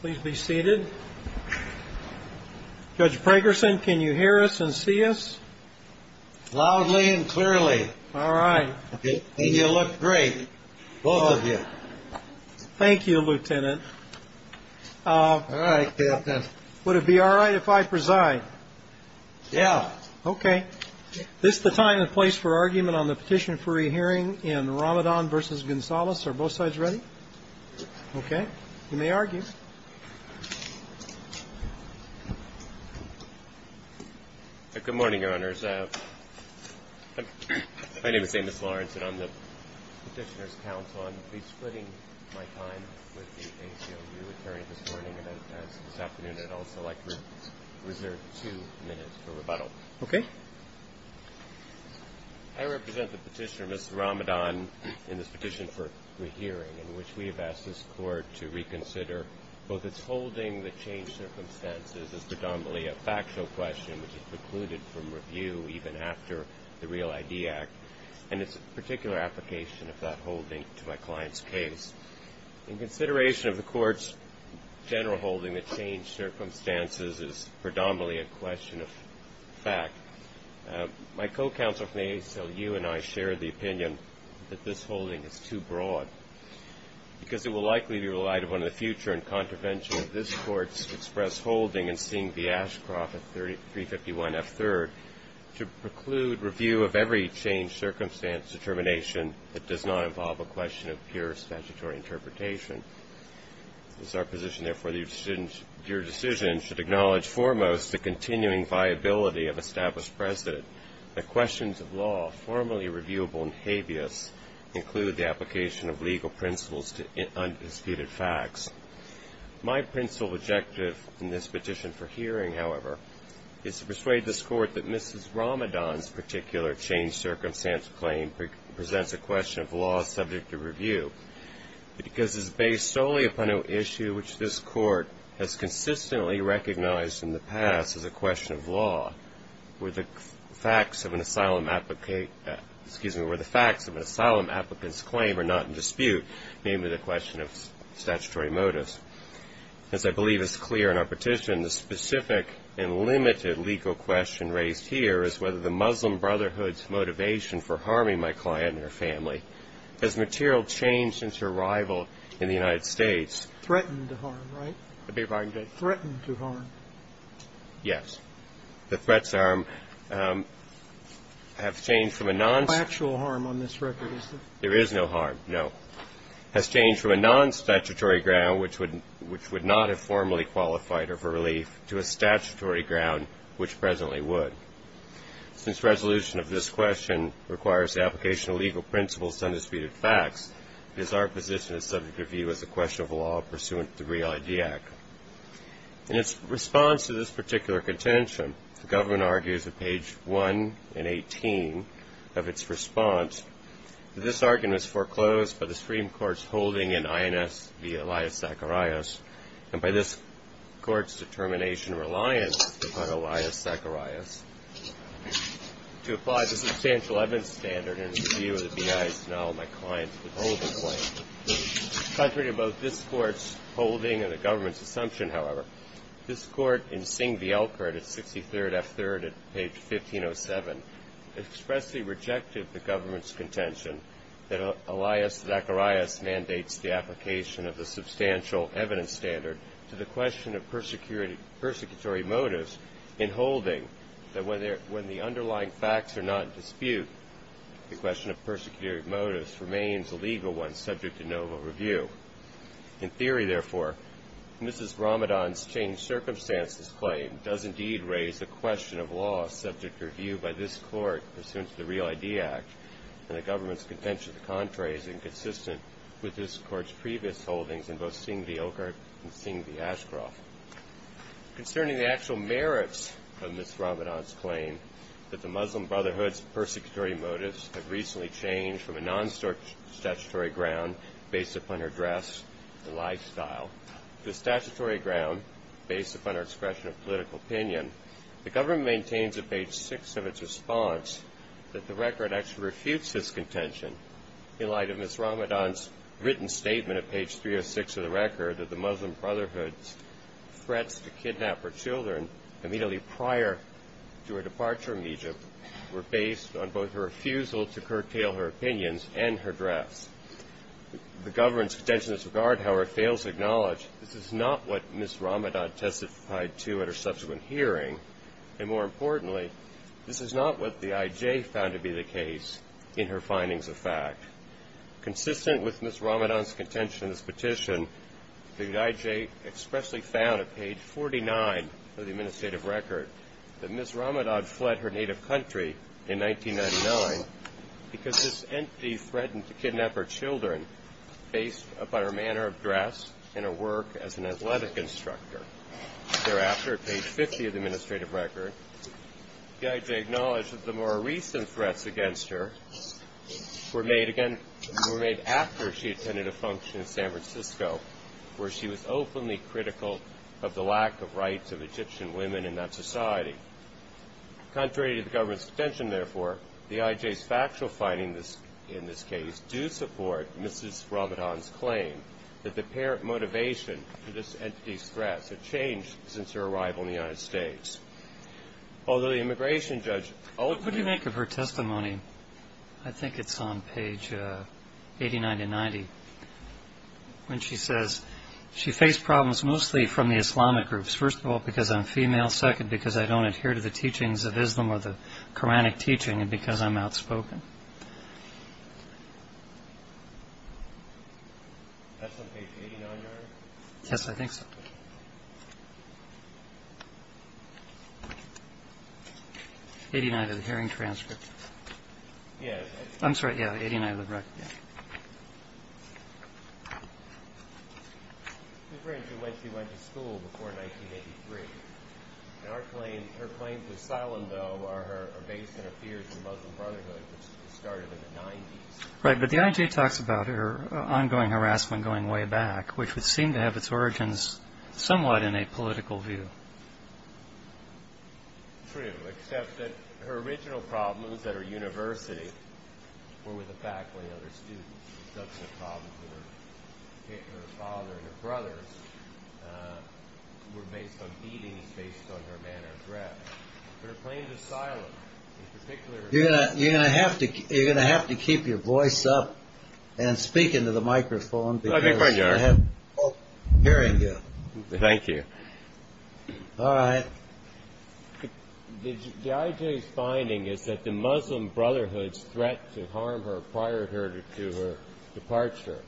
Please be seated. Judge Pragerson, can you hear us and see us? Loudly and clearly. All right. And you look great, both of you. Thank you, Lieutenant. All right, Captain. Would it be all right if I preside? Yeah. Okay. This is the time and place for argument on the petition for a hearing in Ramadan v. Gonzales. Are both sides ready? Okay. You may argue. Good morning, Your Honors. My name is Amos Lawrence, and I'm the petitioner's counsel. I'm resplitting my time with the ACLU attorney this morning and this afternoon, and I'd also like to reserve two minutes for rebuttal. Okay. I represent the petitioner, Mrs. Ramadan, in this petition for a hearing in which we have asked this Court to reconsider both its holding that changed circumstances is predominantly a factual question, which is precluded from review even after the Real ID Act, and its particular application of that holding to my client's case. In consideration of the Court's general holding that changed circumstances is predominantly a question of fact, my co-counsel from the ACLU and I share the opinion that this holding is too broad because it will likely be relied upon in the future in contravention of this Court's express holding in seeing the Ashcroft 351F3rd to preclude review of every changed circumstance determination that does not involve a question of pure statutory interpretation. It is our position, therefore, that your decision should acknowledge foremost the continuing viability of established precedent that questions of law formally reviewable in habeas include the application of legal principles to undisputed facts. My principal objective in this petition for hearing, however, is to persuade this Court that Mrs. Ramadan's particular changed circumstance claim presents a question of law subject to review because it is based solely upon an issue which this Court has consistently recognized in the past as a question of law, where the facts of an asylum applicant's claim are not in dispute, namely the question of statutory motives. As I believe is clear in our petition, the specific and limited legal question raised here is whether the Muslim Brotherhood's motivation for harming my client and her family has material changed since her arrival in the United States. Breyer. Threatened to harm, right? Waxman. Threatened to harm. Waxman. Yes. The threats are have changed from a non- Breyer. No actual harm on this record, is there? Waxman. There is no harm, no. Has changed from a non-statutory ground which would not have formally qualified her for relief to a statutory ground which presently would. Since resolution of this question requires the application of legal principles to undisputed facts, it is our position it is subject to review as a question of law pursuant to the Reality Act. In its response to this particular contention, the government argues at page 1 and 18 of its response, that this argument was foreclosed by the Supreme Court's holding in INS v. Elias Zacharias and by this court's determination and reliance upon Elias Zacharias to apply the substantial evidence standard and review of the BIs to null my client's withholding claim. Contrary to both this court's holding and the government's assumption, however, this court in SING v. Elkert at 63rd F3rd at page 1507 expressly rejected the government's contention that Elias Zacharias mandates the application of the substantial evidence standard to the question of persecutory motives in holding that when the underlying facts are not in dispute, the question of persecutory motives remains a legal one subject to noble review. In theory, therefore, Mrs. Ramadan's changed-circumstances claim does indeed raise the question of law subject to review by this court pursuant to the Reality Act, and the government's contention, to the contrary, is inconsistent with this court's previous holdings in both SING v. Elkert and SING v. Ashcroft. Concerning the actual merits of Mrs. Ramadan's claim that the Muslim Brotherhood's persecutory motives have recently changed from a non-statutory ground based upon her dress and lifestyle to a statutory ground based upon her expression of political opinion, the government maintains at page 6 of its response that the record actually refutes this contention in light of Mrs. Ramadan's written statement at page 306 of the record that the Muslim Brotherhood's threats to kidnap her children immediately prior to her departure from Egypt were based on both her refusal to curtail her opinions and her dress. The government's contention in this regard, however, fails to acknowledge this is not what Mrs. Ramadan testified to at her subsequent hearing, and more importantly, this is not what the IJ found to be the case in her findings of fact. Consistent with Mrs. Ramadan's contention in this petition, the IJ expressly found at page 49 of the administrative record that Mrs. Ramadan fled her native country in 1999 because this entity threatened to kidnap her children based upon her manner of dress and her work as an athletic instructor. Thereafter, at page 50 of the administrative record, the IJ acknowledged that the more recent threats against her were made after she attended a function in San Francisco where she was openly critical of the lack of rights of Egyptian women in that society. Contrary to the government's contention, therefore, the IJ's factual findings in this case do support Mrs. Ramadan's claim that the apparent motivation for this entity's threats had changed since her arrival in the United States. Although the immigration judge... What would you make of her testimony, I think it's on page 89 to 90, when she says she faced problems mostly from the Islamic groups, first of all because I'm female, second because I don't adhere to the teachings of Islam or the Quranic teaching, third because I'm outspoken. That's on page 89, Your Honor? Yes, I think so. 89 of the hearing transcript. Yes. I'm sorry, yeah, 89 of the record. It's referring to when she went to school before 1983. Her claims of asylum, though, are based on her fears of Muslim brotherhood, which started in the 90s. Right, but the IJ talks about her ongoing harassment going way back, which would seem to have its origins somewhat in a political view. True, except that her original problems at her university were with the faculty and other students. Her father and her brothers were based on beatings based on her manner of dress. Her claims of asylum in particular... You're going to have to keep your voice up and speak into the microphone. Thank you. All right. The IJ's finding is that the Muslim Brotherhood's threat to harm her prior to her departure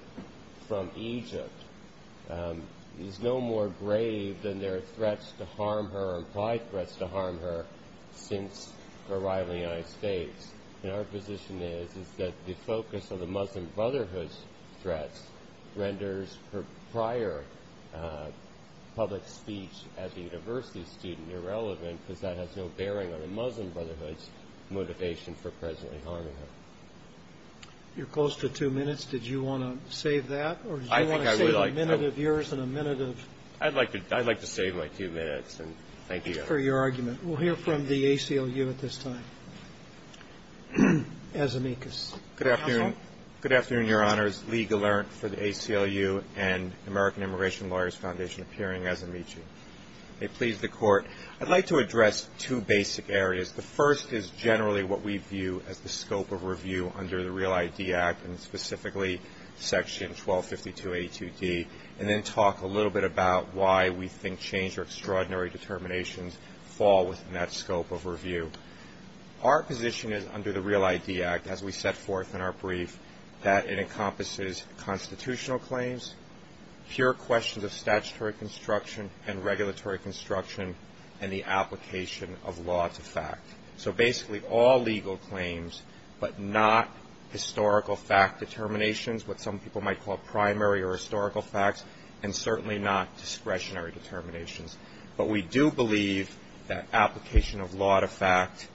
from Egypt is no more grave than their threats to harm her or implied threats to harm her since her arrival in the United States. And our position is that the focus of the Muslim Brotherhood's threats renders her prior public speech as a university student irrelevant, because that has no bearing on the Muslim Brotherhood's motivation for presently harming her. You're close to two minutes. Did you want to save that, or did you want to save a minute of yours and a minute of... Good afternoon, Your Honors. Lee Gallant for the ACLU and American Immigration Lawyers Foundation, appearing as Amici. May it please the Court. I'd like to address two basic areas. The first is generally what we view as the scope of review under the Real ID Act, and specifically Section 1252A2D, and then talk a little bit about why we think changed or extraordinary determinations fall within that scope of review. Our position is under the Real ID Act, as we set forth in our brief, that it encompasses constitutional claims, pure questions of statutory construction and regulatory construction, and the application of law to fact. So basically all legal claims, but not historical fact determinations, what some people might call primary or historical facts, and certainly not discretionary determinations. But we do believe that application of law to fact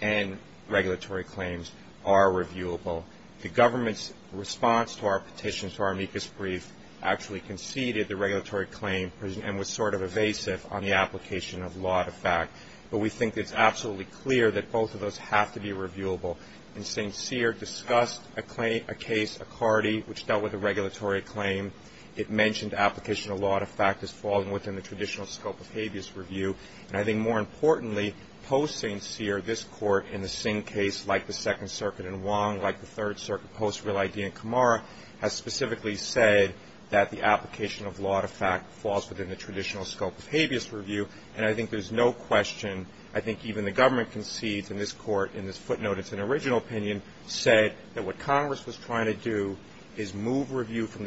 and regulatory claims are reviewable. The government's response to our petition, to our amicus brief, actually conceded the regulatory claim and was sort of evasive on the application of law to fact, but we think it's absolutely clear that both of those have to be reviewable. And since Sear discussed a case, a CARDI, which dealt with a regulatory claim, it mentioned absolutely that both of those have to be reviewable. And we think that the application of law to fact has fallen within the traditional scope of habeas review. And I think more importantly, post St. Sear, this Court, in the same case like the Second Circuit in Wong, like the Third Circuit post Real ID in Kamara, has specifically said that the application of law to fact falls within the traditional scope of habeas review, and I think there's no question, I think even the government concedes in this Court, in this footnote, it's an original opinion, said that what Congress was saying was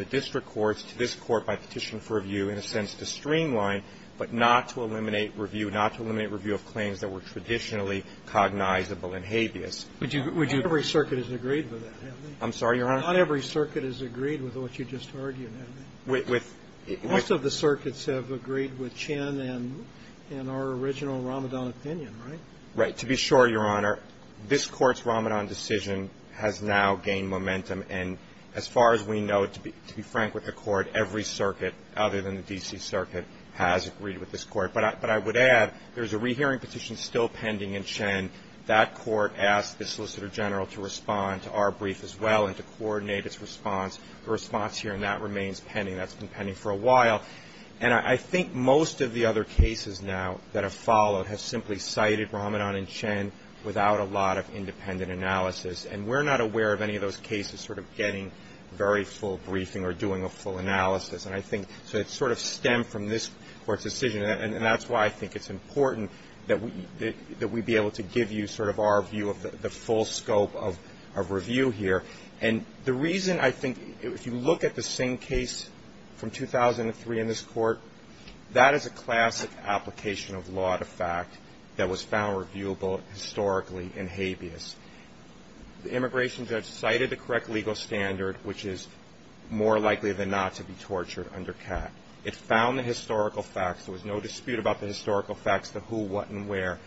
that this Court, by petition for review, in a sense, to streamline, but not to eliminate review, not to eliminate review of claims that were traditionally cognizable in habeas. I'm sorry, Your Honor? Not every circuit has agreed with what you just argued, has it? Most of the circuits have agreed with Chin and our original Ramadan opinion, right? To be sure, Your Honor, this Court's Ramadan decision has now gained momentum, and as far as we know, to be frank with the Court, every circuit, other than the D.C. Circuit, has agreed with this Court. But I would add, there's a rehearing petition still pending in Chin, that Court asked the Solicitor General to respond to our brief as well and to coordinate its response, the response here, and that remains pending, that's been pending for a while. And I think most of the other cases now that have followed have simply cited Ramadan and Chin without a lot of independent analysis, and we're not aware of any of those cases sort of getting very full briefing or doing a full analysis, and I think, so it's sort of stemmed from this Court's decision, and that's why I think it's important that we be able to give you sort of our view of the full scope of review here. And I think, as I said in this Court, that is a classic application of law to fact that was found reviewable historically in habeas. The immigration judge cited the correct legal standard, which is more likely than not to be tortured under CAT. It found the historical facts, there was no dispute about the historical facts, the who, what, and where,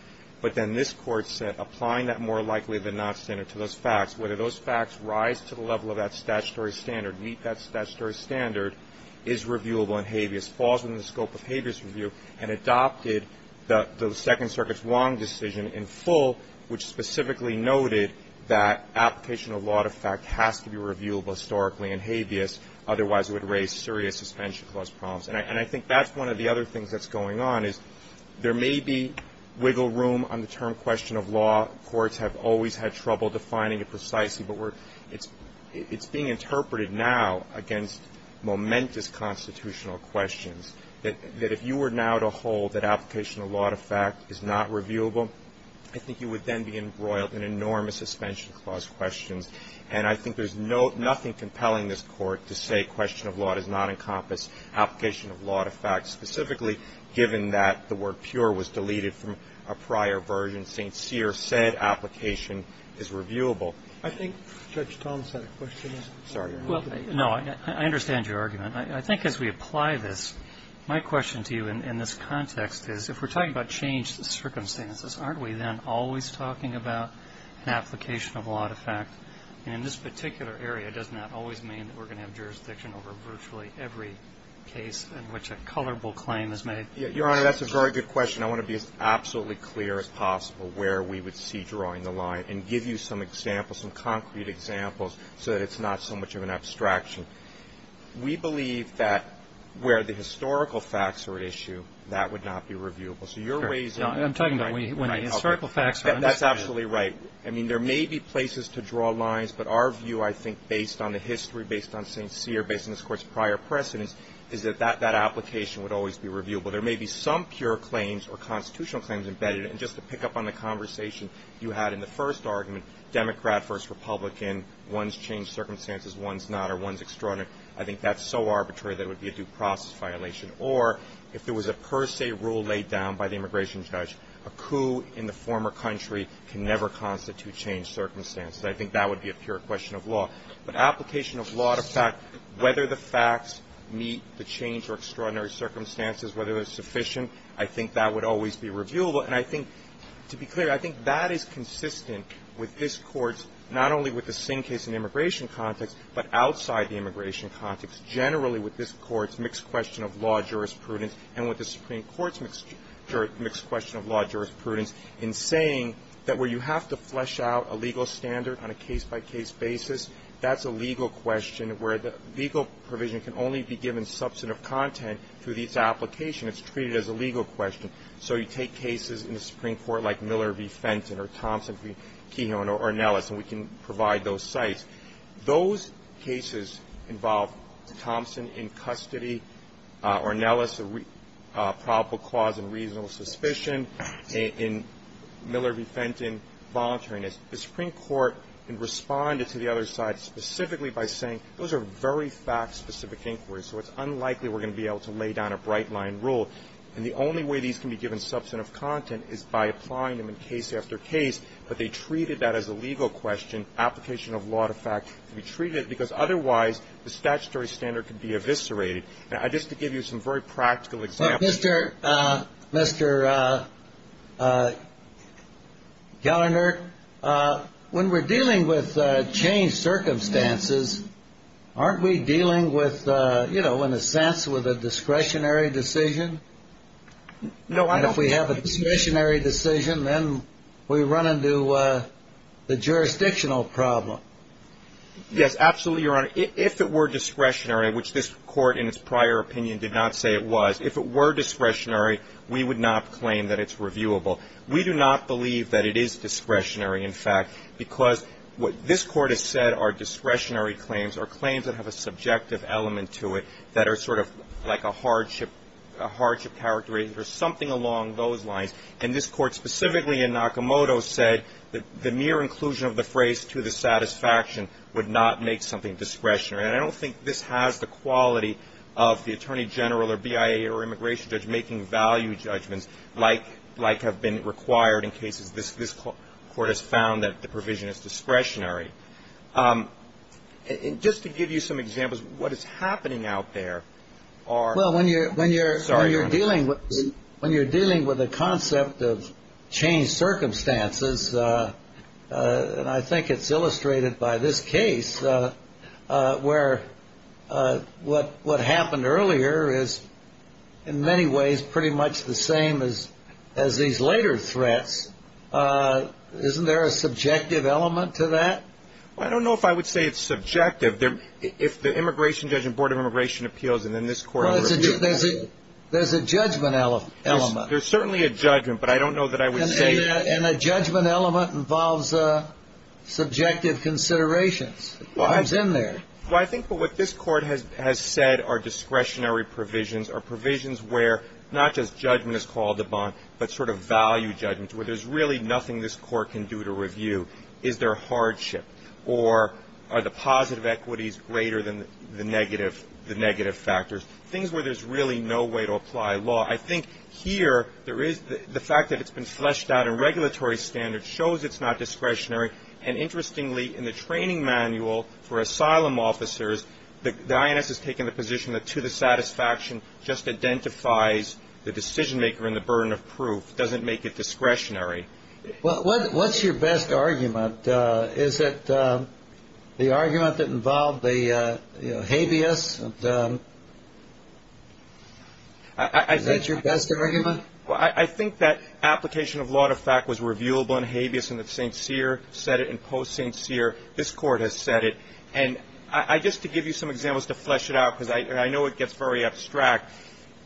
but then this Court said applying that more likely than not standard to those facts, whether those facts rise to the level of that statutory standard, meet that standard, and that's what we're doing here. And I think that's one of the other things that's going on is there may be wiggle room on the term question of law. Courts have always had trouble defining it precisely, but it's being interpreted now against momentous constitutional questions. That if you were now to hold that application of law to fact is not reviewable, I think you would then be embroiled in enormous suspension clause questions, and I think there's nothing compelling this Court to say question of law does not encompass application of law to fact, specifically given that the word pure was deleted from a prior version. St. Cyr said application is reviewable. I think Judge Thomas had a question. No, I understand your argument. I think as we apply this, my question to you in this context is, if we're talking about changed circumstances, aren't we then always talking about an application of law to fact, and in this particular area, doesn't that always mean that we're going to have jurisdiction over virtually every case in which a colorable claim is made? Your Honor, that's a very good question. I want to be as absolutely clear as possible where we would see drawing the line, and give you some examples, some concrete examples, so that it's not so much of an abstraction. We believe that where the historical facts are at issue, that would not be reviewable. So you're raising the point. I'm talking about when the historical facts are understood. That's absolutely right. I mean, there may be places to draw lines, but our view, I think, based on the history, based on St. Cyr, based on this application, would always be reviewable. There may be some pure claims or constitutional claims embedded, and just to pick up on the conversation you had in the first argument, Democrat versus Republican, one's changed circumstances, one's not, or one's extraordinary. I think that's so arbitrary that it would be a due process violation. Or, if there was a per se rule laid down by the immigration judge, a coup in the former country can never constitute changed circumstances. I think that would be a pure question of law. But application of law to fact, whether the facts meet the changed or extraordinary circumstances, whether they're sufficient, I think that would always be reviewable. And I think, to be clear, I think that is consistent with this Court's, not only with the Singh case in the immigration context, but outside the immigration context, generally with this Court's mixed question of law jurisprudence, and with the Supreme Court's mixed question of law jurisprudence in saying that where you have to flesh out a legal standard, on a case-by-case basis, that's a legal question where the legal provision can only be given substantive content through the application. It's treated as a legal question. So you take cases in the Supreme Court like Miller v. Fenton or Thompson v. Kehoe or Ornelas, and we can provide those sites. Those cases involve Thompson in custody, Ornelas, probable cause and reasonable suspicion, and Miller v. Fenton, voluntariness. The Supreme Court responded to the other side specifically by saying those are very fact-specific inquiries, so it's unlikely we're going to be able to lay down a bright-line rule. And the only way these can be given substantive content is by applying them in case after case, but they treated that as a legal question. Application of law to fact can be treated, because otherwise the statutory standard could be eviscerated. Now, just to give you some very practical examples. Mr. Gallinert, when we're dealing with changed circumstances, aren't we dealing with, you know, in a sense with a discretionary decision? And if we have a discretionary decision, then we run into the jurisdictional problem. Yes, absolutely, Your Honor. If it were discretionary, which this Court in its prior opinion did not say it was, if it were discretionary, we would not claim that it's reviewable. We do not believe that it is discretionary, in fact, because what this Court has said are discretionary claims or claims that have a subjective element to it that are sort of like a hardship, a hardship characteristic or something along those lines. And this Court specifically in Nakamoto said that the mere inclusion of the phrase to the satisfaction would not make something discretionary. And I don't think this has the quality of the attorney general or BIA or immigration judge making value judgments like have been required in cases this Court has found that the provision is discretionary. Just to give you some examples, what is happening out there are ---- Sorry, Your Honor. When you're dealing with a concept of changed circumstances, and I think it's illustrated by this case, where what happened earlier is in many ways pretty much the same as these later threats, isn't there a subjective element to that? I don't know if I would say it's subjective. If the immigration judge and Board of Immigration Appeals and then this Court ---- There's a judgment element. There's certainly a judgment, but I don't know that I would say ---- And a judgment element involves subjective considerations. What's in there? Well, I think what this Court has said are discretionary provisions or provisions where not just judgment is called upon, but sort of value judgments where there's really nothing this Court can do to review. Is there hardship? Or are the positive equities greater than the negative factors? Things where there's really no way to apply law. I think here there is the fact that it's been fleshed out in regulatory standards shows it's not discretionary. And interestingly, in the training manual for asylum officers, the INS has taken the position that to the satisfaction just identifies the decision maker and the burden of proof, doesn't make it discretionary. Well, what's your best argument? Is it the argument that involved the habeas? Is that your best argument? Well, I think that application of law to fact was reviewable in habeas, and that St. Cyr said it in post-St. Cyr. This Court has said it. And just to give you some examples to flesh it out, because I know it gets very abstract,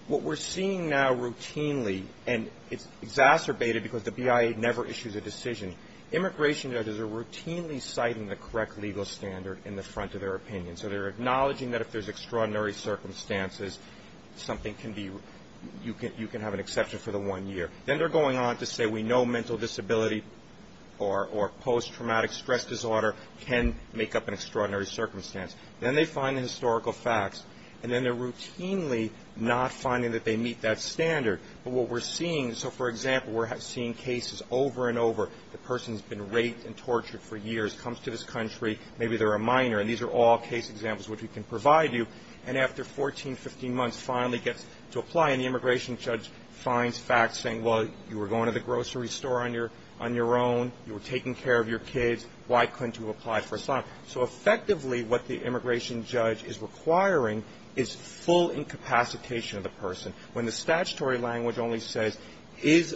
what we're seeing now routinely, and it's exacerbated because the BIA never issues a decision, immigration judges are routinely citing the correct legal standard in the front of their opinion. So they're acknowledging that if there's extraordinary circumstances, something can be you can have an exception for the one year. Then they're going on to say we know mental disability or post-traumatic stress disorder can make up an extraordinary circumstance. Then they find the historical facts. And then they're routinely not finding that they meet that standard. But what we're seeing, so, for example, we're seeing cases over and over, the person's been raped and tortured for years, comes to this country, maybe they're a minor, and these are all case examples which we can provide you. And after 14, 15 months, finally gets to apply, and the immigration judge finds facts saying, well, you were going to the grocery store on your own, you were taking care of your kids, why couldn't you apply for asylum? So effectively, what the immigration judge is requiring is full incapacitation of the person. When the statutory language only says, is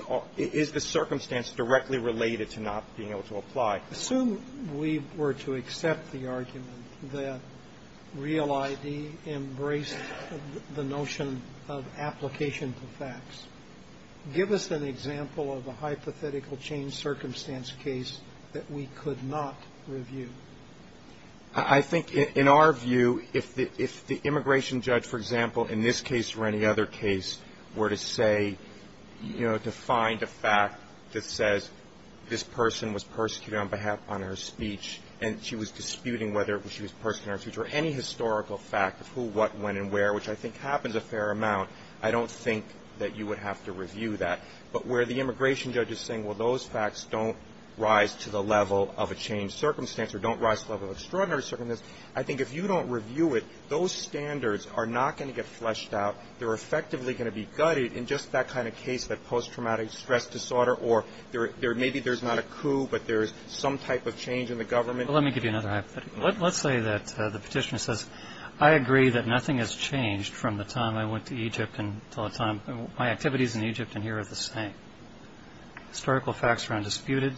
the circumstance directly related to not being able to apply. Sotomayor. Assume we were to accept the argument that Real ID embraced the notion of application for facts. Give us an example of a hypothetical change circumstance case that we could not review. I think, in our view, if the immigration judge, for example, in this case or any other case, were to say, you know, to find a fact that says this person was persecuted on her speech and she was disputing whether she was persecuted on her speech or any historical fact of who, what, when, and where, which I think happens a fair amount, I don't think that you would have to review that. But where the immigration judge is saying, well, those facts don't rise to the level of a changed circumstance or don't rise to the level of an extraordinary circumstance, I think if you don't review it, those standards are not going to get fleshed out. They're effectively going to be gutted in just that kind of case, that post-traumatic stress disorder, or maybe there's not a coup, but there's some type of change in the government. Well, let me give you another hypothetical. Let's say that the petitioner says, I agree that nothing has changed from the time I went to Egypt until the time my activities in Egypt and here are the same. Historical facts are undisputed.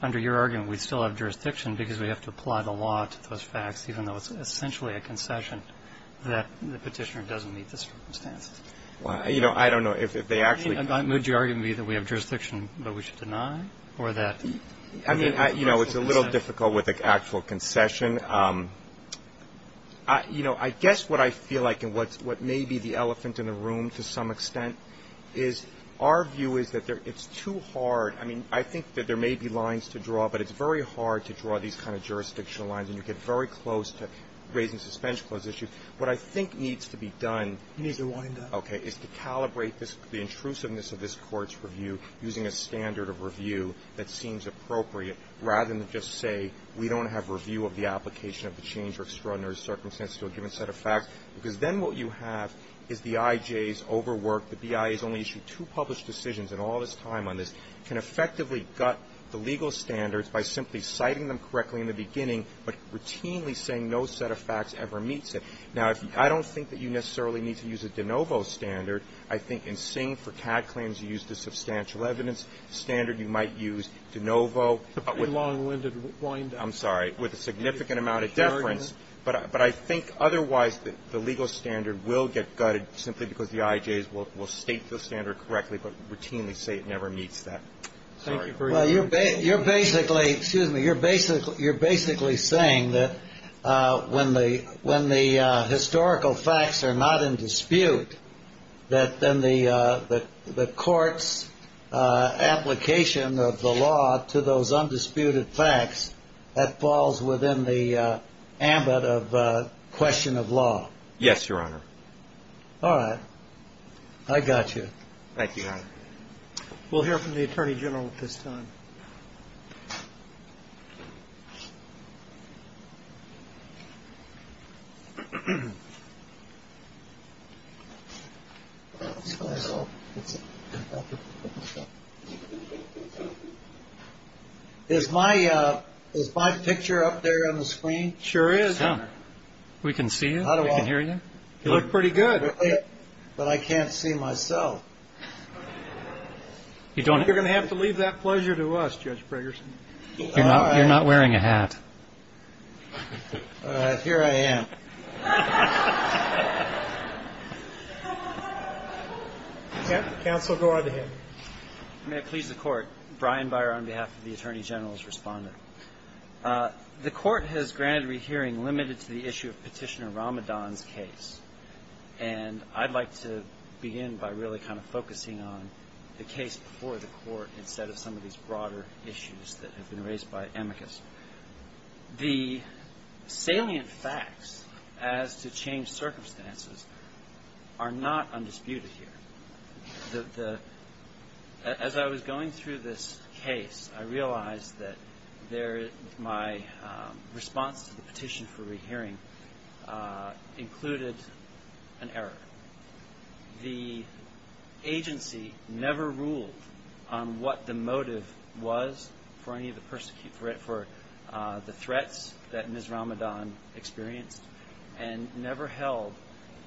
Under your argument, we still have jurisdiction because we have to apply the law to those facts, even though it's essentially a concession that the petitioner doesn't meet the circumstances. Well, you know, I don't know if they actually – I mean, would your argument be that we have jurisdiction but we should deny or that – I mean, you know, it's a little difficult with an actual concession. You know, I guess what I feel like and what may be the elephant in the room to some extent is our view is that it's too hard – I mean, I think that there may be lines to draw, but it's very hard to draw these kind of jurisdictional lines, and you get very close to raising suspension clause issues. What I think needs to be done – You need to wind up. the intrusiveness of this Court's review using a standard of review that seems appropriate rather than just say we don't have review of the application of the change or extraordinary circumstances to a given set of facts, because then what you have is the IJ's overworked – the BIA's only issued two published decisions in all this time on this – can effectively gut the legal standards by simply citing them correctly in the beginning but routinely saying no set of facts ever meets it. Now, I don't think that you necessarily need to use a de novo standard. I think in Singh, for CAD claims, you use the substantial evidence standard. You might use de novo. A pretty long-winded wind-up. I'm sorry. With a significant amount of deference. But I think otherwise the legal standard will get gutted simply because the IJ's will state the standard correctly but routinely say it never meets that. Thank you for your – Well, you're basically – excuse me. You're basically saying that when the historical facts are not in dispute, that then the Court's application of the law to those undisputed facts, that falls within the ambit of question of law. Yes, Your Honor. I got you. Thank you, Your Honor. We'll hear from the Attorney General at this time. Is my picture up there on the screen? It sure is, Your Honor. We can see you. We can hear you. You look pretty good. But I can't see myself. You're going to have to leave that pleasure to us, Judge Bragerson. You're not wearing a hat. All right. Here I am. Counsel, go right ahead. May it please the Court. Brian Byer on behalf of the Attorney General's Responder. The Court has granted rehearing limited to the issue of Petitioner Ramadan's case, and I'd like to begin by really kind of focusing on the case before the Court instead of some of these broader issues that have been raised by amicus. The salient facts as to changed circumstances are not undisputed here. As I was going through this case, I realized that my response to the petition for rehearing included an error. The agency never ruled on what the motive was for any of the threats that Ms. Ramadan experienced and never held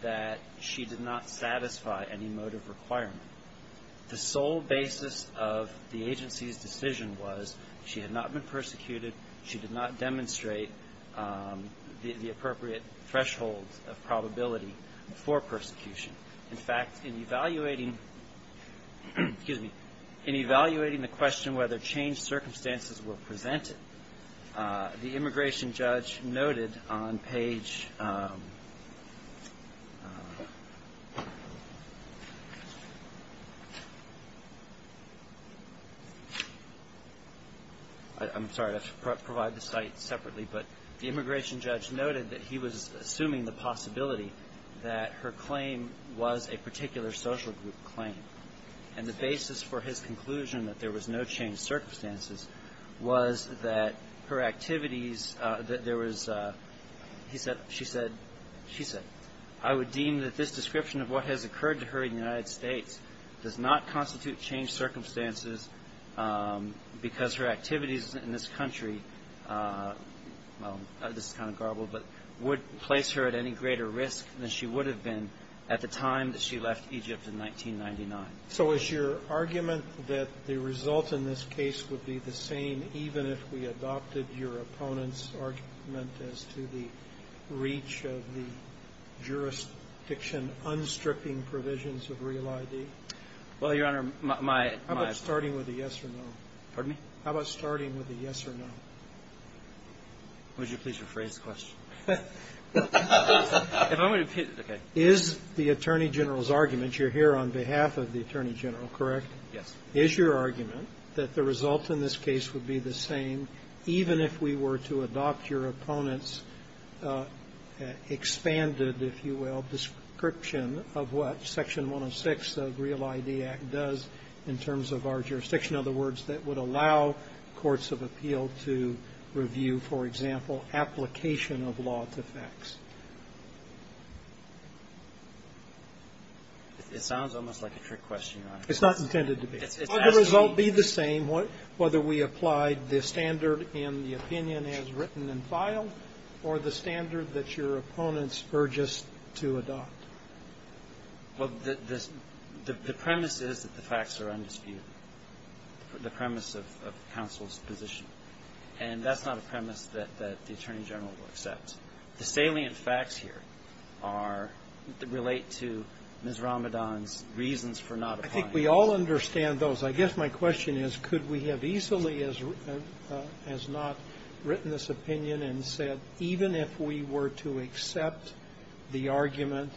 that she did not satisfy any motive requirement. The sole basis of the agency's decision was she had not been persecuted, she did not demonstrate the appropriate threshold of probability for persecution. In fact, in evaluating the question whether changed circumstances were presented, the immigration judge noted on page ‑‑ I'm sorry, I have to provide the site separately, but the immigration judge noted that he was assuming the possibility that her claim was a particular social group claim, and the basis for his conclusion that there was no changed circumstances was that her activities, that there was, he said, she said, she said, I would deem that this description of what has occurred to her in the United States does not constitute changed circumstances because her activities in this country, well, this is kind of garbled, but would place her at any greater risk than she would have been at the time that she left Egypt in 1999. So is your argument that the result in this case would be the same even if we adopted your opponent's argument as to the reach of the jurisdiction unstripping provisions of Real ID? Well, Your Honor, my ‑‑ How about starting with a yes or no? Pardon me? How about starting with a yes or no? Would you please rephrase the question? If I'm going to ‑‑ okay. Is the Attorney General's argument, you're here on behalf of the Attorney General, correct? Yes. Is your argument that the result in this case would be the same even if we were to adopt your opponent's expanded, if you will, description of what Section 106 of Real ID Act does in terms of our jurisdiction, in other words, that would allow courts of appeal to review, for example, application of law to facts? It sounds almost like a trick question, Your Honor. It's not intended to be. Would the result be the same whether we applied the standard in the opinion as written and filed or the standard that your opponents urge us to adopt? Well, the premise is that the facts are undisputed. The premise of counsel's position. And that's not a premise that the Attorney General will accept. The salient facts here are ‑‑ relate to Ms. Ramadan's reasons for not applying. I think we all understand those. I guess my question is could we have easily as not written this opinion and said even if we were to accept the argument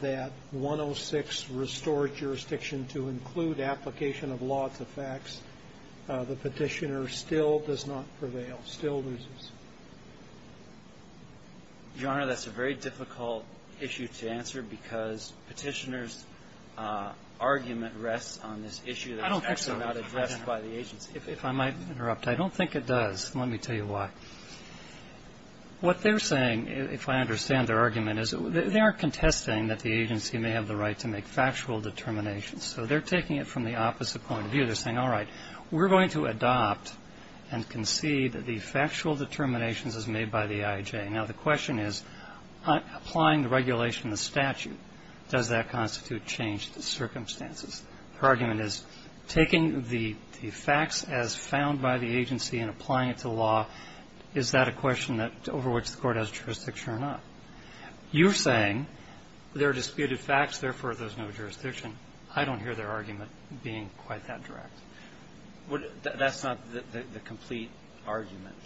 that 106 restored jurisdiction to include application of law to facts, the Petitioner still does not prevail, still loses? Your Honor, that's a very difficult issue to answer because Petitioner's argument rests on this issue that's actually not addressed by the agency. If I might interrupt, I don't think it does. Let me tell you why. What they're saying, if I understand their argument, is they aren't contesting that the agency may have the right to make factual determinations. So they're taking it from the opposite point of view. They're saying, all right, we're going to adopt and concede that the factual determinations as made by the IJ. Now, the question is applying the regulation, the statute, does that constitute change to circumstances? Her argument is taking the facts as found by the agency and applying it to law, is that a question over which the Court has jurisdiction or not? You're saying there are disputed facts, therefore there's no jurisdiction. I don't hear their argument being quite that direct. That's not the complete argument.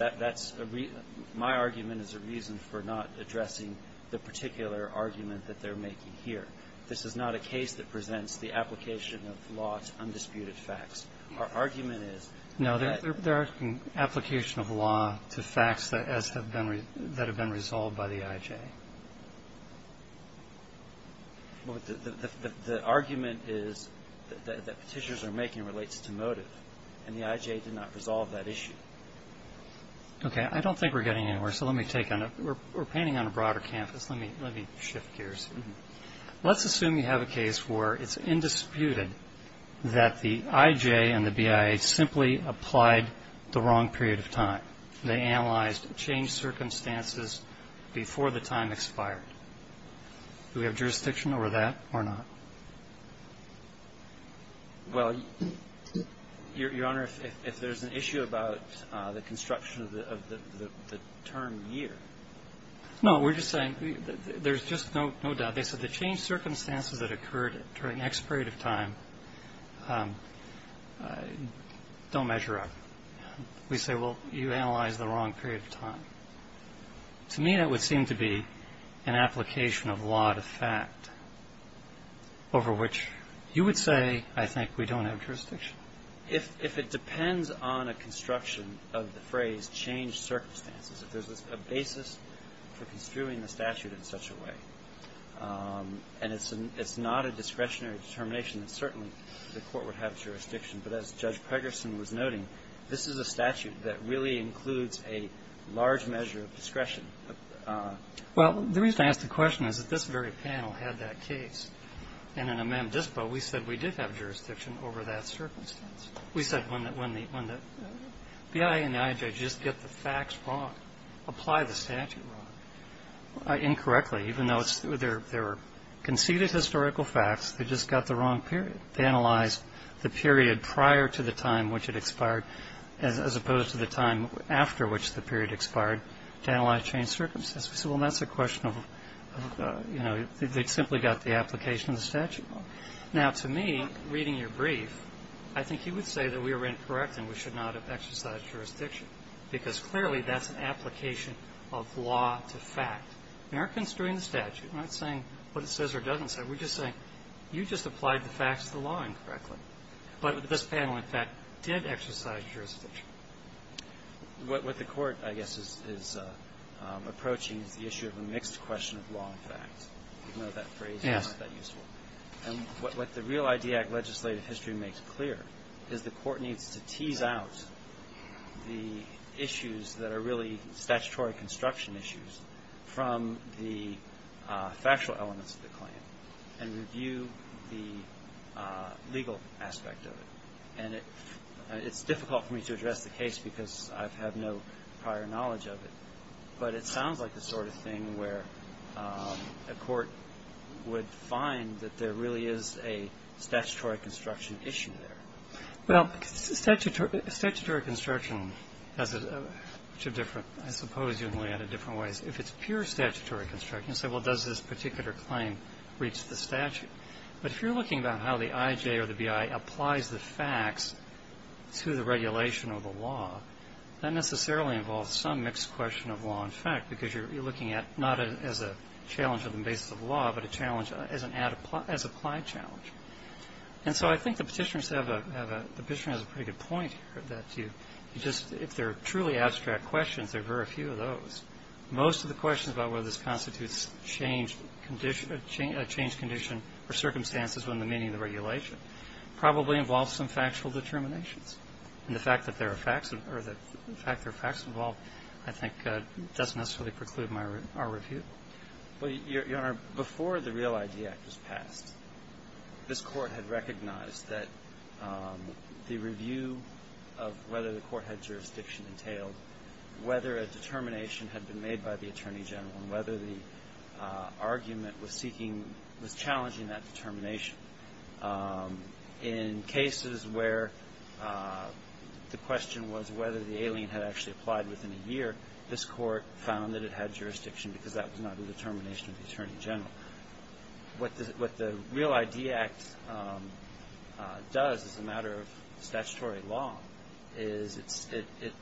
My argument is a reason for not addressing the particular argument that they're making here. This is not a case that presents the application of law to undisputed facts. Our argument is... No, they're asking application of law to facts that have been resolved by the IJ. The argument is that petitions they're making relates to motive, and the IJ did not resolve that issue. Okay, I don't think we're getting anywhere, so let me take on that. We're painting on a broader canvas. Let me shift gears. Let's assume you have a case where it's indisputed that the IJ and the BIA simply applied the wrong period of time. They analyzed changed circumstances before the time expired. Do we have jurisdiction over that or not? Well, Your Honor, if there's an issue about the construction of the term year... No, we're just saying there's just no doubt. They said the changed circumstances that occurred during the expiration of time don't measure up. We say, well, you analyzed the wrong period of time. To me, that would seem to be an application of law to fact, over which you would say, I think we don't have jurisdiction. If it depends on a construction of the phrase changed circumstances, if there's a basis for construing the statute in such a way, and it's not a discretionary determination, then certainly the court would have jurisdiction. But as Judge Pregerson was noting, this is a statute that really includes a large measure of discretion. Well, the reason I ask the question is that this very panel had that case. And in amem dispo, we said we did have jurisdiction over that circumstance. We said when the BIA and the IJ just get the facts wrong, apply the statute wrong. Incorrectly, even though there are conceded historical facts, they just got the wrong period. They analyzed the period prior to the time which it expired as opposed to the time after which the period expired to analyze changed circumstances. We said, well, that's a question of, you know, they simply got the application of the statute wrong. Now, to me, reading your brief, I think you would say that we are incorrect and we should not have exercised jurisdiction, because clearly that's an application of law to fact. Americans are doing the statute. We're not saying what it says or doesn't say. We're just saying you just applied the facts of the law incorrectly. But this panel, in fact, did exercise jurisdiction. What the Court, I guess, is approaching is the issue of a mixed question of law and fact. I don't know if that phrase is useful. And what the Real ID Act legislative history makes clear is the Court needs to tease out the issues that are really statutory construction issues from the factual elements of the claim and review the legal aspect of it. And it's difficult for me to address the case because I have no prior knowledge of it, but it sounds like the sort of thing where a court would find that there really is a statutory construction issue there. Well, statutory construction has two different, I suppose, in a way, different ways. If it's pure statutory construction, you say, well, does this particular claim reach the statute? But if you're looking about how the IJ or the BI applies the facts to the regulation of the law, that necessarily involves some mixed question of law and fact, because you're looking at not as a challenge of the basis of law, but a challenge as an applied challenge. And so I think the Petitioner has a pretty good point here, that if there are truly abstract questions, there are very few of those. Most of the questions about whether this constitutes a changed condition or circumstances within the meaning of the regulation probably involve some factual determinations. And the fact that there are facts involved, I think, doesn't necessarily preclude our review. Well, Your Honor, before the REAL ID Act was passed, this Court had recognized that the review of whether the court had jurisdiction entailed whether a determination had been made by the Attorney General and whether the argument was challenging that determination. In cases where the question was whether the alien had actually applied within a year, this Court found that it had jurisdiction, because that was not a determination of the Attorney General. What the REAL ID Act does as a matter of statutory law is it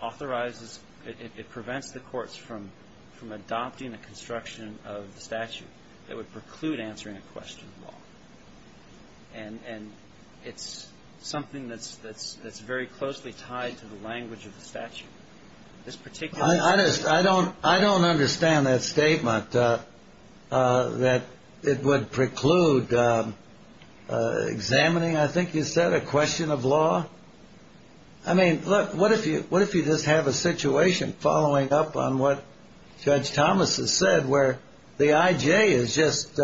authorizes, it prevents the courts from adopting a construction of the statute that would preclude answering a question of law. And it's something that's very closely tied to the language of the statute. I don't understand that statement, that it would preclude examining, I think you said, a question of law. I mean, look, what if you just have a situation following up on what Judge Thomas has said where the I.J. has just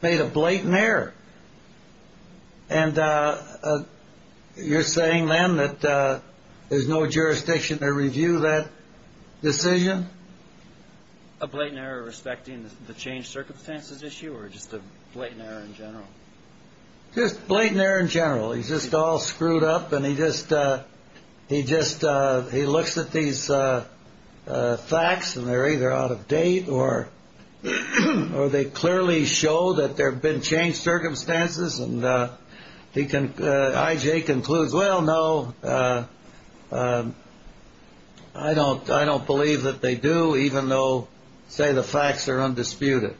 made a blatant error? And you're saying, then, that there's no jurisdiction to review that decision? A blatant error respecting the changed circumstances issue or just a blatant error in general? Just blatant error in general. He's just all screwed up, and he just looks at these facts, and they're either out of date or they clearly show that there have been changed circumstances, and the I.J. concludes, well, no, I don't believe that they do, even though, say, the facts are undisputed.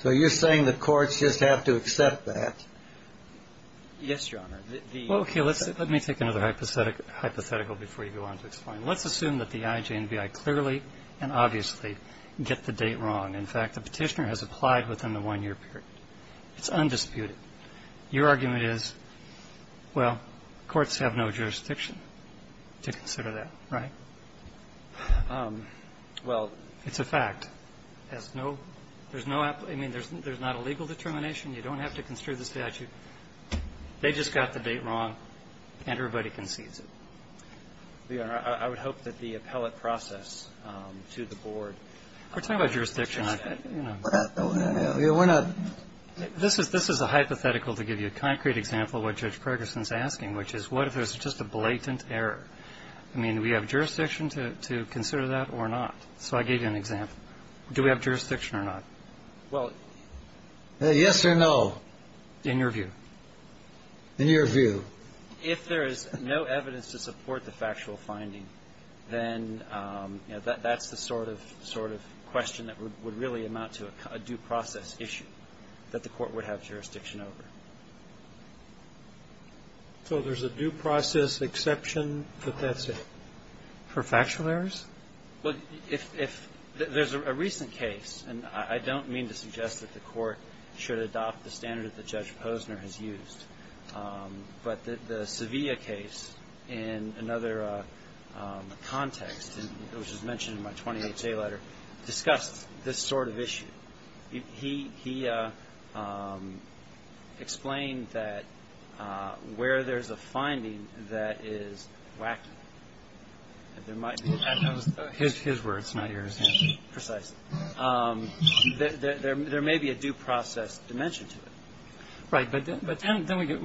So you're saying the courts just have to accept that? Yes, Your Honor. Well, okay, let me take another hypothetical before you go on to explain. Let's assume that the I.J. and B.I. clearly and obviously get the date wrong. In fact, the Petitioner has applied within the one-year period. It's undisputed. Your argument is, well, courts have no jurisdiction to consider that, right? Well, it's a fact. There's no – I mean, there's not a legal determination. You don't have to construe the statute. They just got the date wrong, and everybody concedes it. Your Honor, I would hope that the appellate process to the board – We're talking about jurisdiction. We're not – we're not – This is a hypothetical to give you a concrete example of what Judge Ferguson is asking, which is what if there's just a blatant error? I mean, do we have jurisdiction to consider that or not? So I gave you an example. Do we have jurisdiction or not? Well – Yes or no. In your view. In your view. If there is no evidence to support the factual finding, then, you know, that's the sort of question that would really amount to a due process issue that the court would have jurisdiction over. So there's a due process exception, but that's it? For factual errors? Well, if – there's a recent case, and I don't mean to suggest that the court should adopt the standard that Judge Posner has used. But the Sevilla case, in another context, and it was just mentioned in my 2008 letter, discussed this sort of issue. He explained that where there's a finding that is wacky, there might be – His words, not yours. Precisely. There may be a due process dimension to it. Right. But then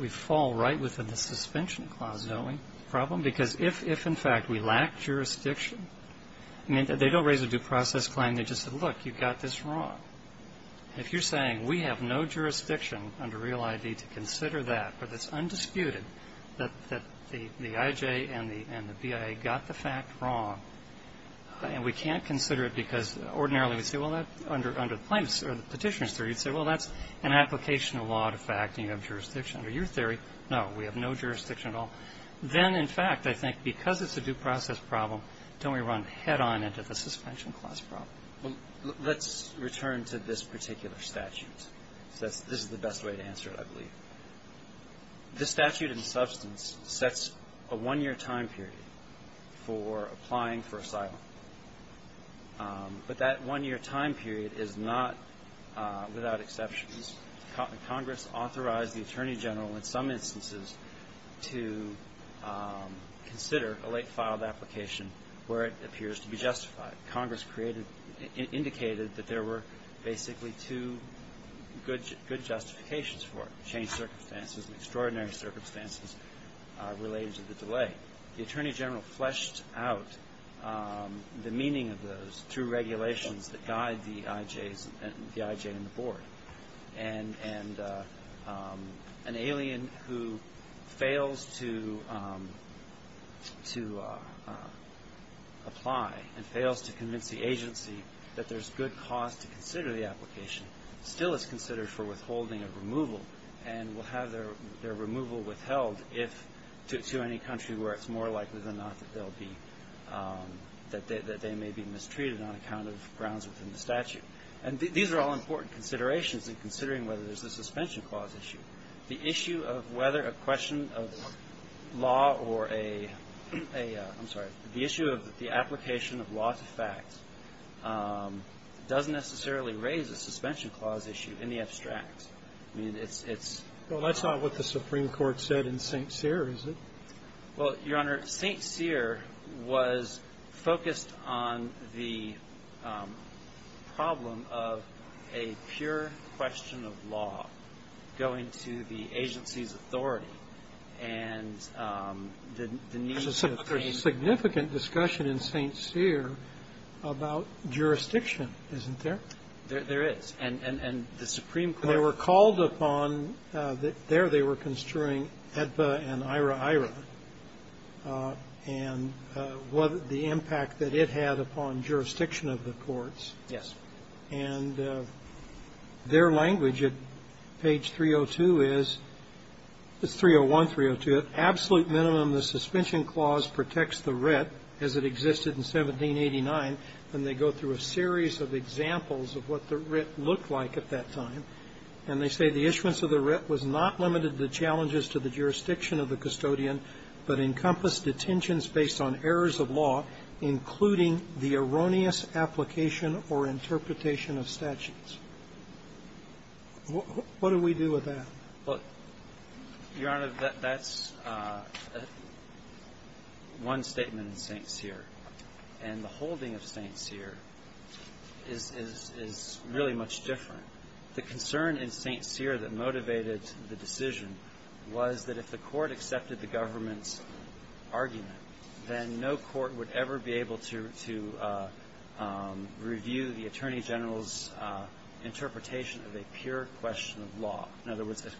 we fall right within the suspension clause, don't we, problem? Because if, in fact, we lack jurisdiction – I mean, they don't raise a due process claim. They just say, look, you've got this wrong. If you're saying we have no jurisdiction under Real ID to consider that, but it's undisputed that the IJ and the BIA got the fact wrong, and we can't consider it because ordinarily we say, well, under the Petitioner's Theory, you'd say, well, that's an application of law to fact and you have jurisdiction. Under your theory, no, we have no jurisdiction at all. Then, in fact, I think because it's a due process problem, don't we run head-on into the suspension clause problem? Well, let's return to this particular statute. This is the best way to answer it, I believe. The statute in substance sets a one-year time period for applying for asylum. But that one-year time period is not without exceptions. Congress authorized the Attorney General in some instances to consider a late-filed application where it appears to be justified. Congress indicated that there were basically two good justifications for it, changed circumstances and extraordinary circumstances related to the delay. The Attorney General fleshed out the meaning of those two regulations that guide the IJ and the Board. And an alien who fails to apply and fails to convince the agency that there's good cause to consider the application still is considered for withholding of removal and will have their removal withheld to any country where it's more likely than not that they may be mistreated on account of grounds within the statute. And these are all important considerations in considering whether there's a suspension clause issue. The issue of whether a question of law or a – I'm sorry. The issue of the application of law to facts doesn't necessarily raise a suspension clause issue in the abstract. I mean, it's – it's – Well, that's not what the Supreme Court said in St. Cyr, is it? Well, Your Honor, St. Cyr was focused on the problem of a pure question of law going to the agency's authority. And the need to frame – There's a significant discussion in St. Cyr about jurisdiction, isn't there? There is. And the Supreme Court – They were called upon – there they were construing AEDPA and IHRA-IHRA and what the impact that it had upon jurisdiction of the courts. Yes. And their language at page 302 is – it's 301, 302. At absolute minimum, the suspension clause protects the writ as it existed in 1789. And they go through a series of examples of what the writ looked like at that time. And they say the issuance of the writ was not limited to the challenges to the jurisdiction of the custodian, but encompassed detentions based on errors of law, including the erroneous application or interpretation of statutes. What do we do with that? Well, Your Honor, that's one statement in St. Cyr. And the holding of St. Cyr is really much different. The concern in St. Cyr that motivated the decision was that if the court accepted the government's argument, then no court would ever be able to review the Attorney General's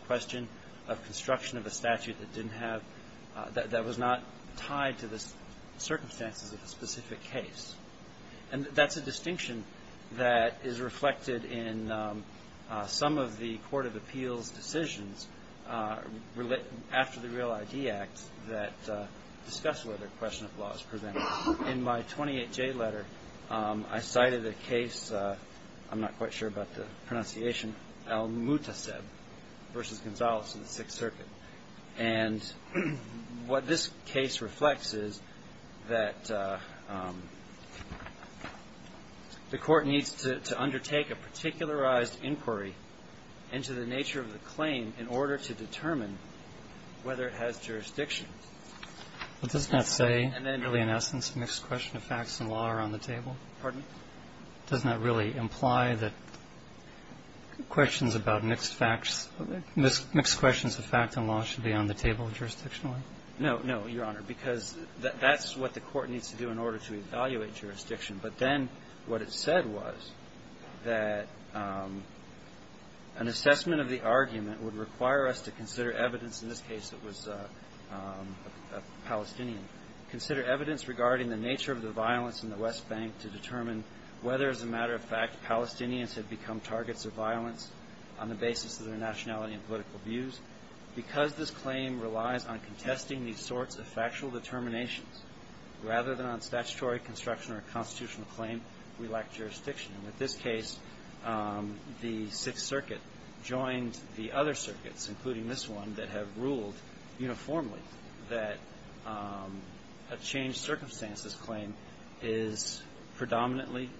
question of construction of a statute that didn't have – that was not tied to the circumstances of a specific case. And that's a distinction that is reflected in some of the court of appeals decisions after the Real ID Act that discuss whether question of law is presented. In my 28J letter, I cited a case – I'm not quite sure about the pronunciation – Mutaseb v. Gonzales in the Sixth Circuit. And what this case reflects is that the court needs to undertake a particularized inquiry into the nature of the claim in order to determine whether it has jurisdiction. But does that say really, in essence, mixed question of facts and law are on the table? Pardon? Does that really imply that questions about mixed facts – mixed questions of facts and law should be on the table jurisdictionally? No, no, Your Honor, because that's what the court needs to do in order to evaluate jurisdiction. But then what it said was that an assessment of the argument would require us to consider evidence – in this case, it was a Palestinian – consider evidence regarding the nature of the violence in the West Bank to determine whether, as a matter of fact, Palestinians have become targets of violence on the basis of their nationality and political views. Because this claim relies on contesting these sorts of factual determinations rather than on statutory construction or a constitutional claim, we lack jurisdiction. And with this case, the Sixth Circuit joined the other circuits, including this one, that have ruled uniformly that a changed circumstances claim is predominantly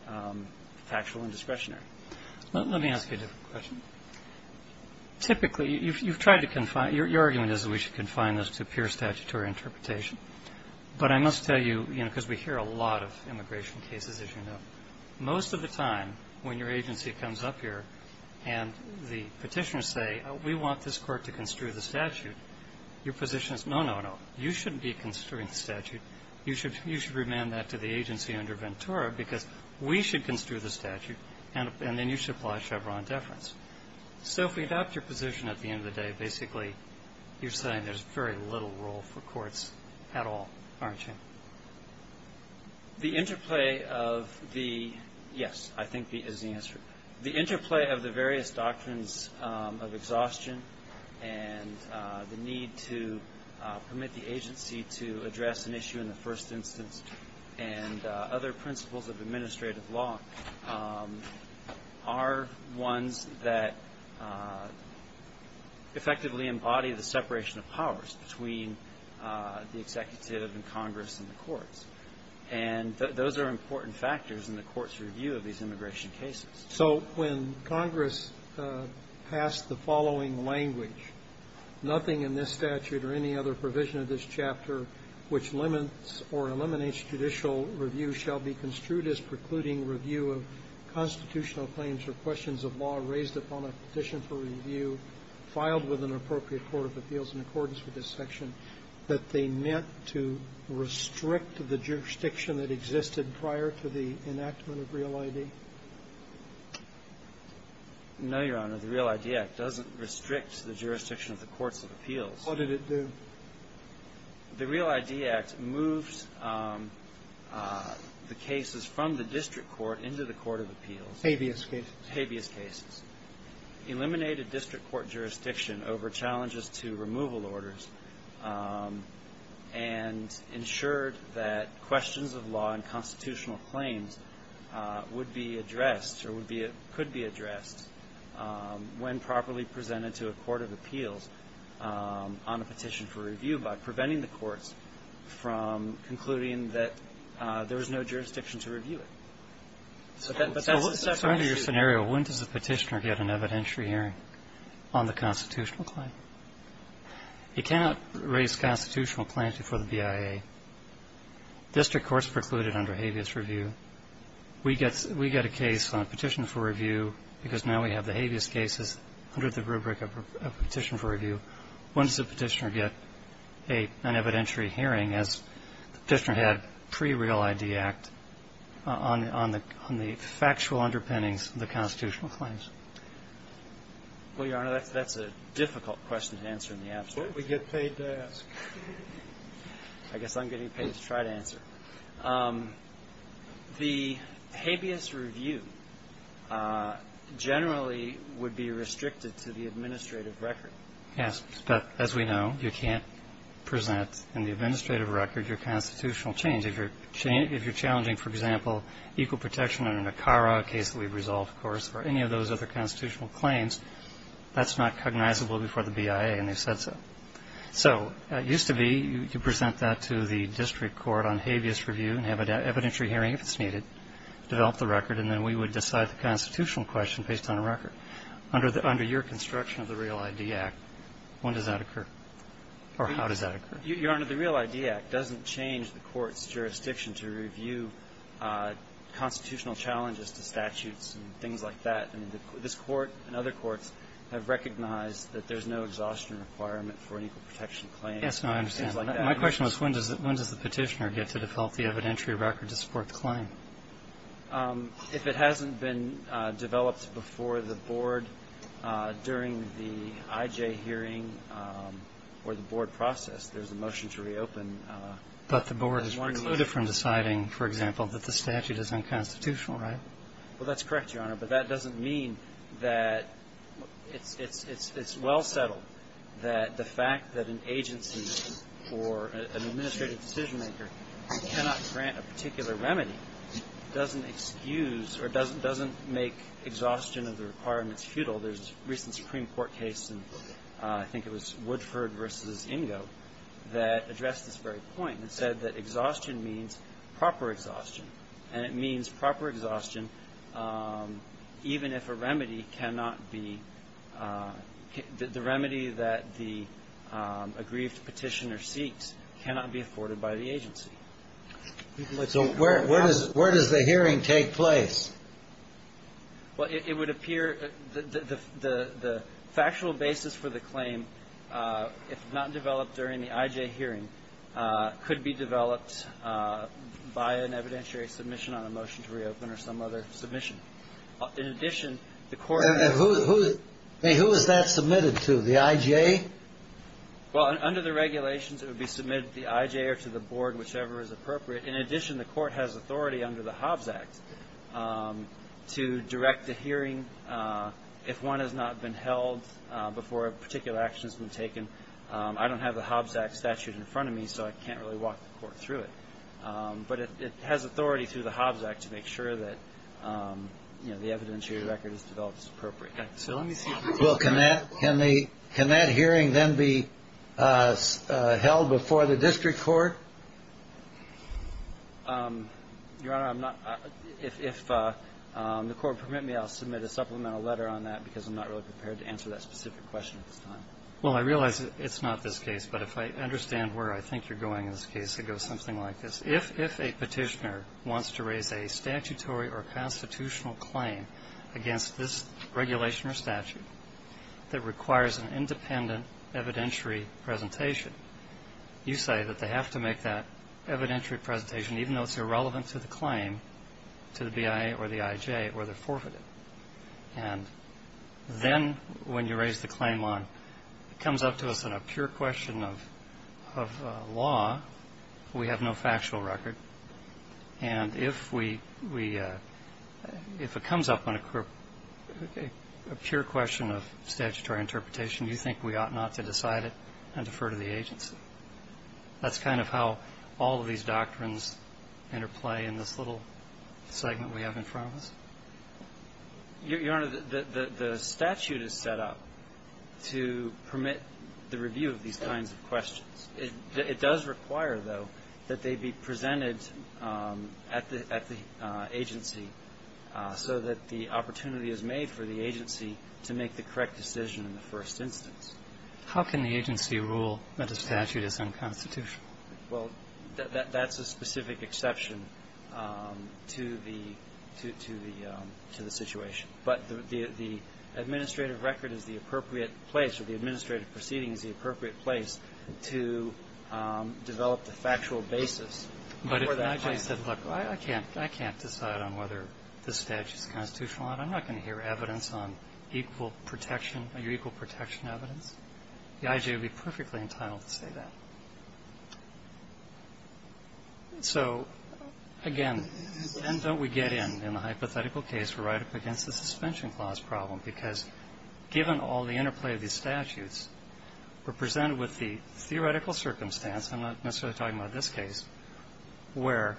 factual and discretionary. Let me ask you a different question. Typically, you've tried to confine – your argument is that we should confine this to pure statutory interpretation. But I must tell you, you know, because we hear a lot of immigration cases, as you know, most of the time when your agency comes up here and the petitioners say, we want this court to construe the statute, your position is, no, no, no. You shouldn't be construing the statute. You should remand that to the agency under Ventura because we should construe the statute, and then you should apply Chevron deference. So if we adopt your position at the end of the day, basically you're saying there's very little role for courts at all, aren't you? The interplay of the – yes, I think is the answer. The interplay of the various doctrines of exhaustion and the need to permit the agency to address an issue in the first instance and other principles of administrative law are ones that effectively embody the separation of powers between the executive and Congress and the courts. And those are important factors in the court's review of these immigration cases. So when Congress passed the following language, nothing in this statute or any other provision of this chapter which limits or eliminates judicial review shall be construed as precluding review of constitutional claims or questions of law raised upon a petition for review filed with an appropriate court of appeals in accordance with this section that they meant to restrict the jurisdiction that existed prior to the enactment of Real ID? No, Your Honor. The Real ID Act doesn't restrict the jurisdiction of the courts of appeals. What did it do? The Real ID Act moves the cases from the district court into the court of appeals. Habeas cases. Habeas cases. Eliminated district court jurisdiction over challenges to removal orders and ensured that questions of law and constitutional claims would be addressed or could be addressed when properly presented to a court of appeals on a petition for review by preventing the courts from concluding that there was no jurisdiction to review it. So under your scenario, when does a petitioner get an evidentiary hearing on the constitutional claim? You cannot raise constitutional claims before the BIA. District courts precluded under Habeas review. We get a case on a petition for review because now we have the Habeas cases under the rubric of petition for review. When does a petitioner get an evidentiary hearing as the petitioner had pre-Real ID Act on the factual underpinnings of the constitutional claims? Well, Your Honor, that's a difficult question to answer in the absence. What would we get paid to ask? I guess I'm getting paid to try to answer. The Habeas review generally would be restricted to the administrative record. Yes. But as we know, you can't present in the administrative record your constitutional change. If you're challenging, for example, equal protection under NACARA, a case that we've resolved, of course, or any of those other constitutional claims, that's not cognizable before the BIA, and they've said so. So it used to be you present that to the district court on Habeas review and have an evidentiary hearing if it's needed, develop the record, and then we would decide the constitutional question based on a record. Under your construction of the Real ID Act, when does that occur? Or how does that occur? Your Honor, the Real ID Act doesn't change the court's jurisdiction to review constitutional challenges to statutes and things like that. I mean, this court and other courts have recognized that there's no exhaustion requirement for an equal protection claim. Yes, no, I understand. My question was when does the petitioner get to develop the evidentiary record to support the claim? If it hasn't been developed before the board during the IJ hearing or the board hearing process, there's a motion to reopen. But the board is precluded from deciding, for example, that the statute is unconstitutional, right? Well, that's correct, Your Honor, but that doesn't mean that it's well settled that the fact that an agency or an administrative decision-maker cannot grant a particular remedy doesn't excuse or doesn't make exhaustion of the requirements futile. For example, there's a recent Supreme Court case, and I think it was Woodford v. Ingo, that addressed this very point and said that exhaustion means proper exhaustion. And it means proper exhaustion even if a remedy cannot be the remedy that the aggrieved petitioner seeks cannot be afforded by the agency. So where does the hearing take place? Well, it would appear that the factual basis for the claim, if not developed during the IJ hearing, could be developed by an evidentiary submission on a motion to reopen or some other submission. In addition, the court has to be able to do that. And who is that submitted to, the IJ? Well, under the regulations, it would be submitted to the IJ or to the board, whichever is appropriate. In addition, the court has authority under the Hobbs Act to direct a hearing if one has not been held before a particular action has been taken. I don't have the Hobbs Act statute in front of me, so I can't really walk the court through it. But it has authority through the Hobbs Act to make sure that the evidentiary record is developed as appropriate. Well, can that hearing then be held before the district court? Your Honor, if the court permit me, I'll submit a supplemental letter on that, because I'm not really prepared to answer that specific question at this time. Well, I realize it's not this case, but if I understand where I think you're going in this case, it goes something like this. If a petitioner wants to raise a statutory or constitutional claim against this regulation or statute that requires an independent evidentiary presentation, you say that they have to make that evidentiary presentation, even though it's irrelevant to the claim, to the BIA or the IJ, or they're forfeited. And then when you raise the claim on, it comes up to us in a pure question of law, we have no factual record. And if we – if it comes up on a pure question of statutory interpretation, do you think we ought not to decide it and defer to the agency? That's kind of how all of these doctrines interplay in this little segment we have in front of us. Your Honor, the statute is set up to permit the review of these kinds of questions. It does require, though, that they be presented at the agency so that the opportunity is made for the agency to make the correct decision in the first instance. How can the agency rule that a statute is unconstitutional? Well, that's a specific exception to the situation. But the administrative record is the appropriate place, or the administrative proceeding is the appropriate place to develop the factual basis. But if the IJ said, look, I can't decide on whether this statute is constitutional or not, I'm not going to hear evidence on equal protection or your equal protection evidence, the IJ would be perfectly entitled to say that. So, again, then don't we get in, in the hypothetical case, right up against the suspension clause problem, because given all the interplay of these statutes, we're presented with the theoretical circumstance. I'm not necessarily talking about this case, where,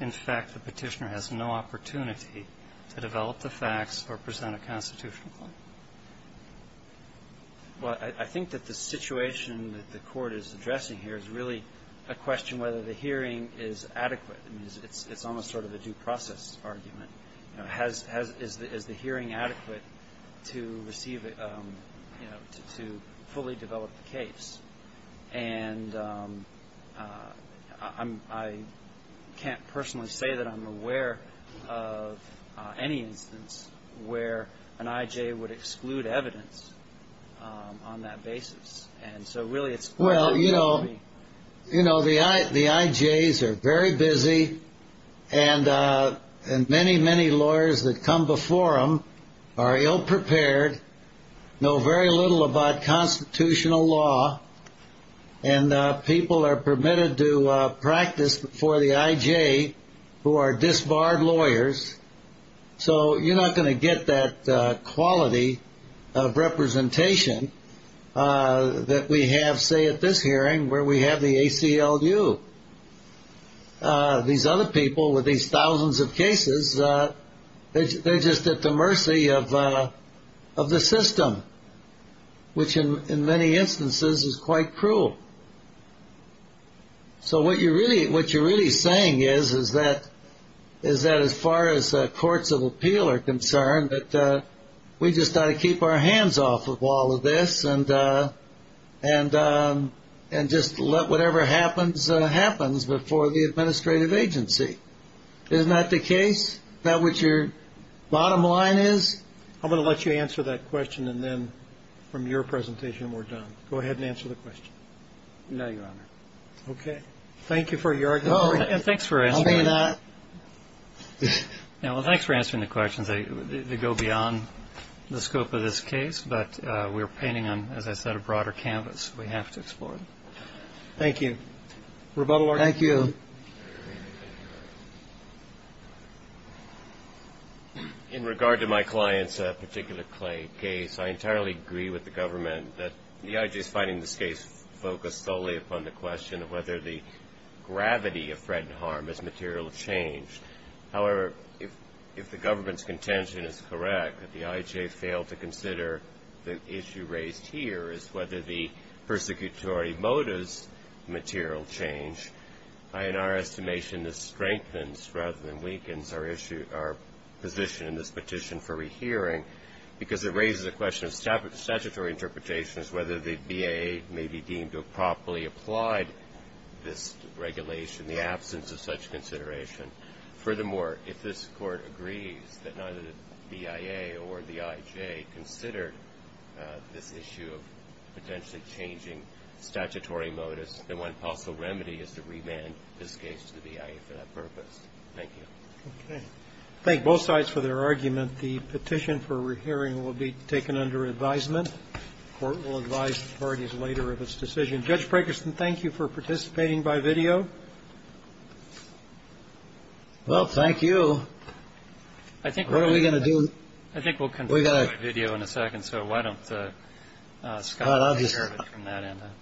in fact, the Petitioner has no opportunity to develop the facts or present a constitutional claim. Well, I think that the situation that the Court is addressing here is really a question whether the hearing is adequate. I mean, it's almost sort of a due process argument. You know, is the hearing adequate to receive it, you know, to fully develop the case? And I can't personally say that I'm aware of any instance where an IJ would exclude evidence on that basis. And so, really, it's clear that we will be. You know, the IJs are very busy, and many, many lawyers that come before them are ill-prepared, know very little about constitutional law, and people are permitted to practice before the IJ who are disbarred lawyers. So you're not going to get that quality of representation that we have, say, at this hearing, where we have the ACLU. These other people with these thousands of cases, they're just at the mercy of the system, which in many instances is quite cruel. So what you're really saying is that as far as courts of appeal are concerned, that we just got to keep our hands off of all of this and just let whatever happens before the administrative agency. Isn't that the case? Is that what your bottom line is? I'm going to let you answer that question, and then from your presentation, we're done. Go ahead and answer the question. No, Your Honor. Okay. Thank you for your argument. Oh, and thanks for answering that. Well, thanks for answering the questions. They go beyond the scope of this case, but we're painting on, as I said, a broader canvas. We have to explore it. Thank you. Thank you. In regard to my client's particular case, I entirely agree with the government that the IJ is finding this case focused solely upon the question of whether the gravity of threat and harm is material change. However, if the government's contention is correct, that the IJ failed to consider the issue raised here is whether the persecutory motive is material change. In our estimation, this strengthens rather than weakens our position in this petition for rehearing because it raises the question of statutory interpretations, whether the BIA may be deemed to have properly applied this regulation in the absence of such consideration. Furthermore, if this Court agrees that neither the BIA or the IJ considered this issue of potentially changing statutory motives, then one possible remedy is to remand this case to the BIA for that purpose. Thank you. Okay. Thank both sides for their argument. The petition for rehearing will be taken under advisement. The Court will advise parties later of its decision. Judge Prakosten, thank you for participating by video. Well, thank you. What are we going to do? I think we'll continue by video in a second, so why don't Scott take care of it from that end. All right.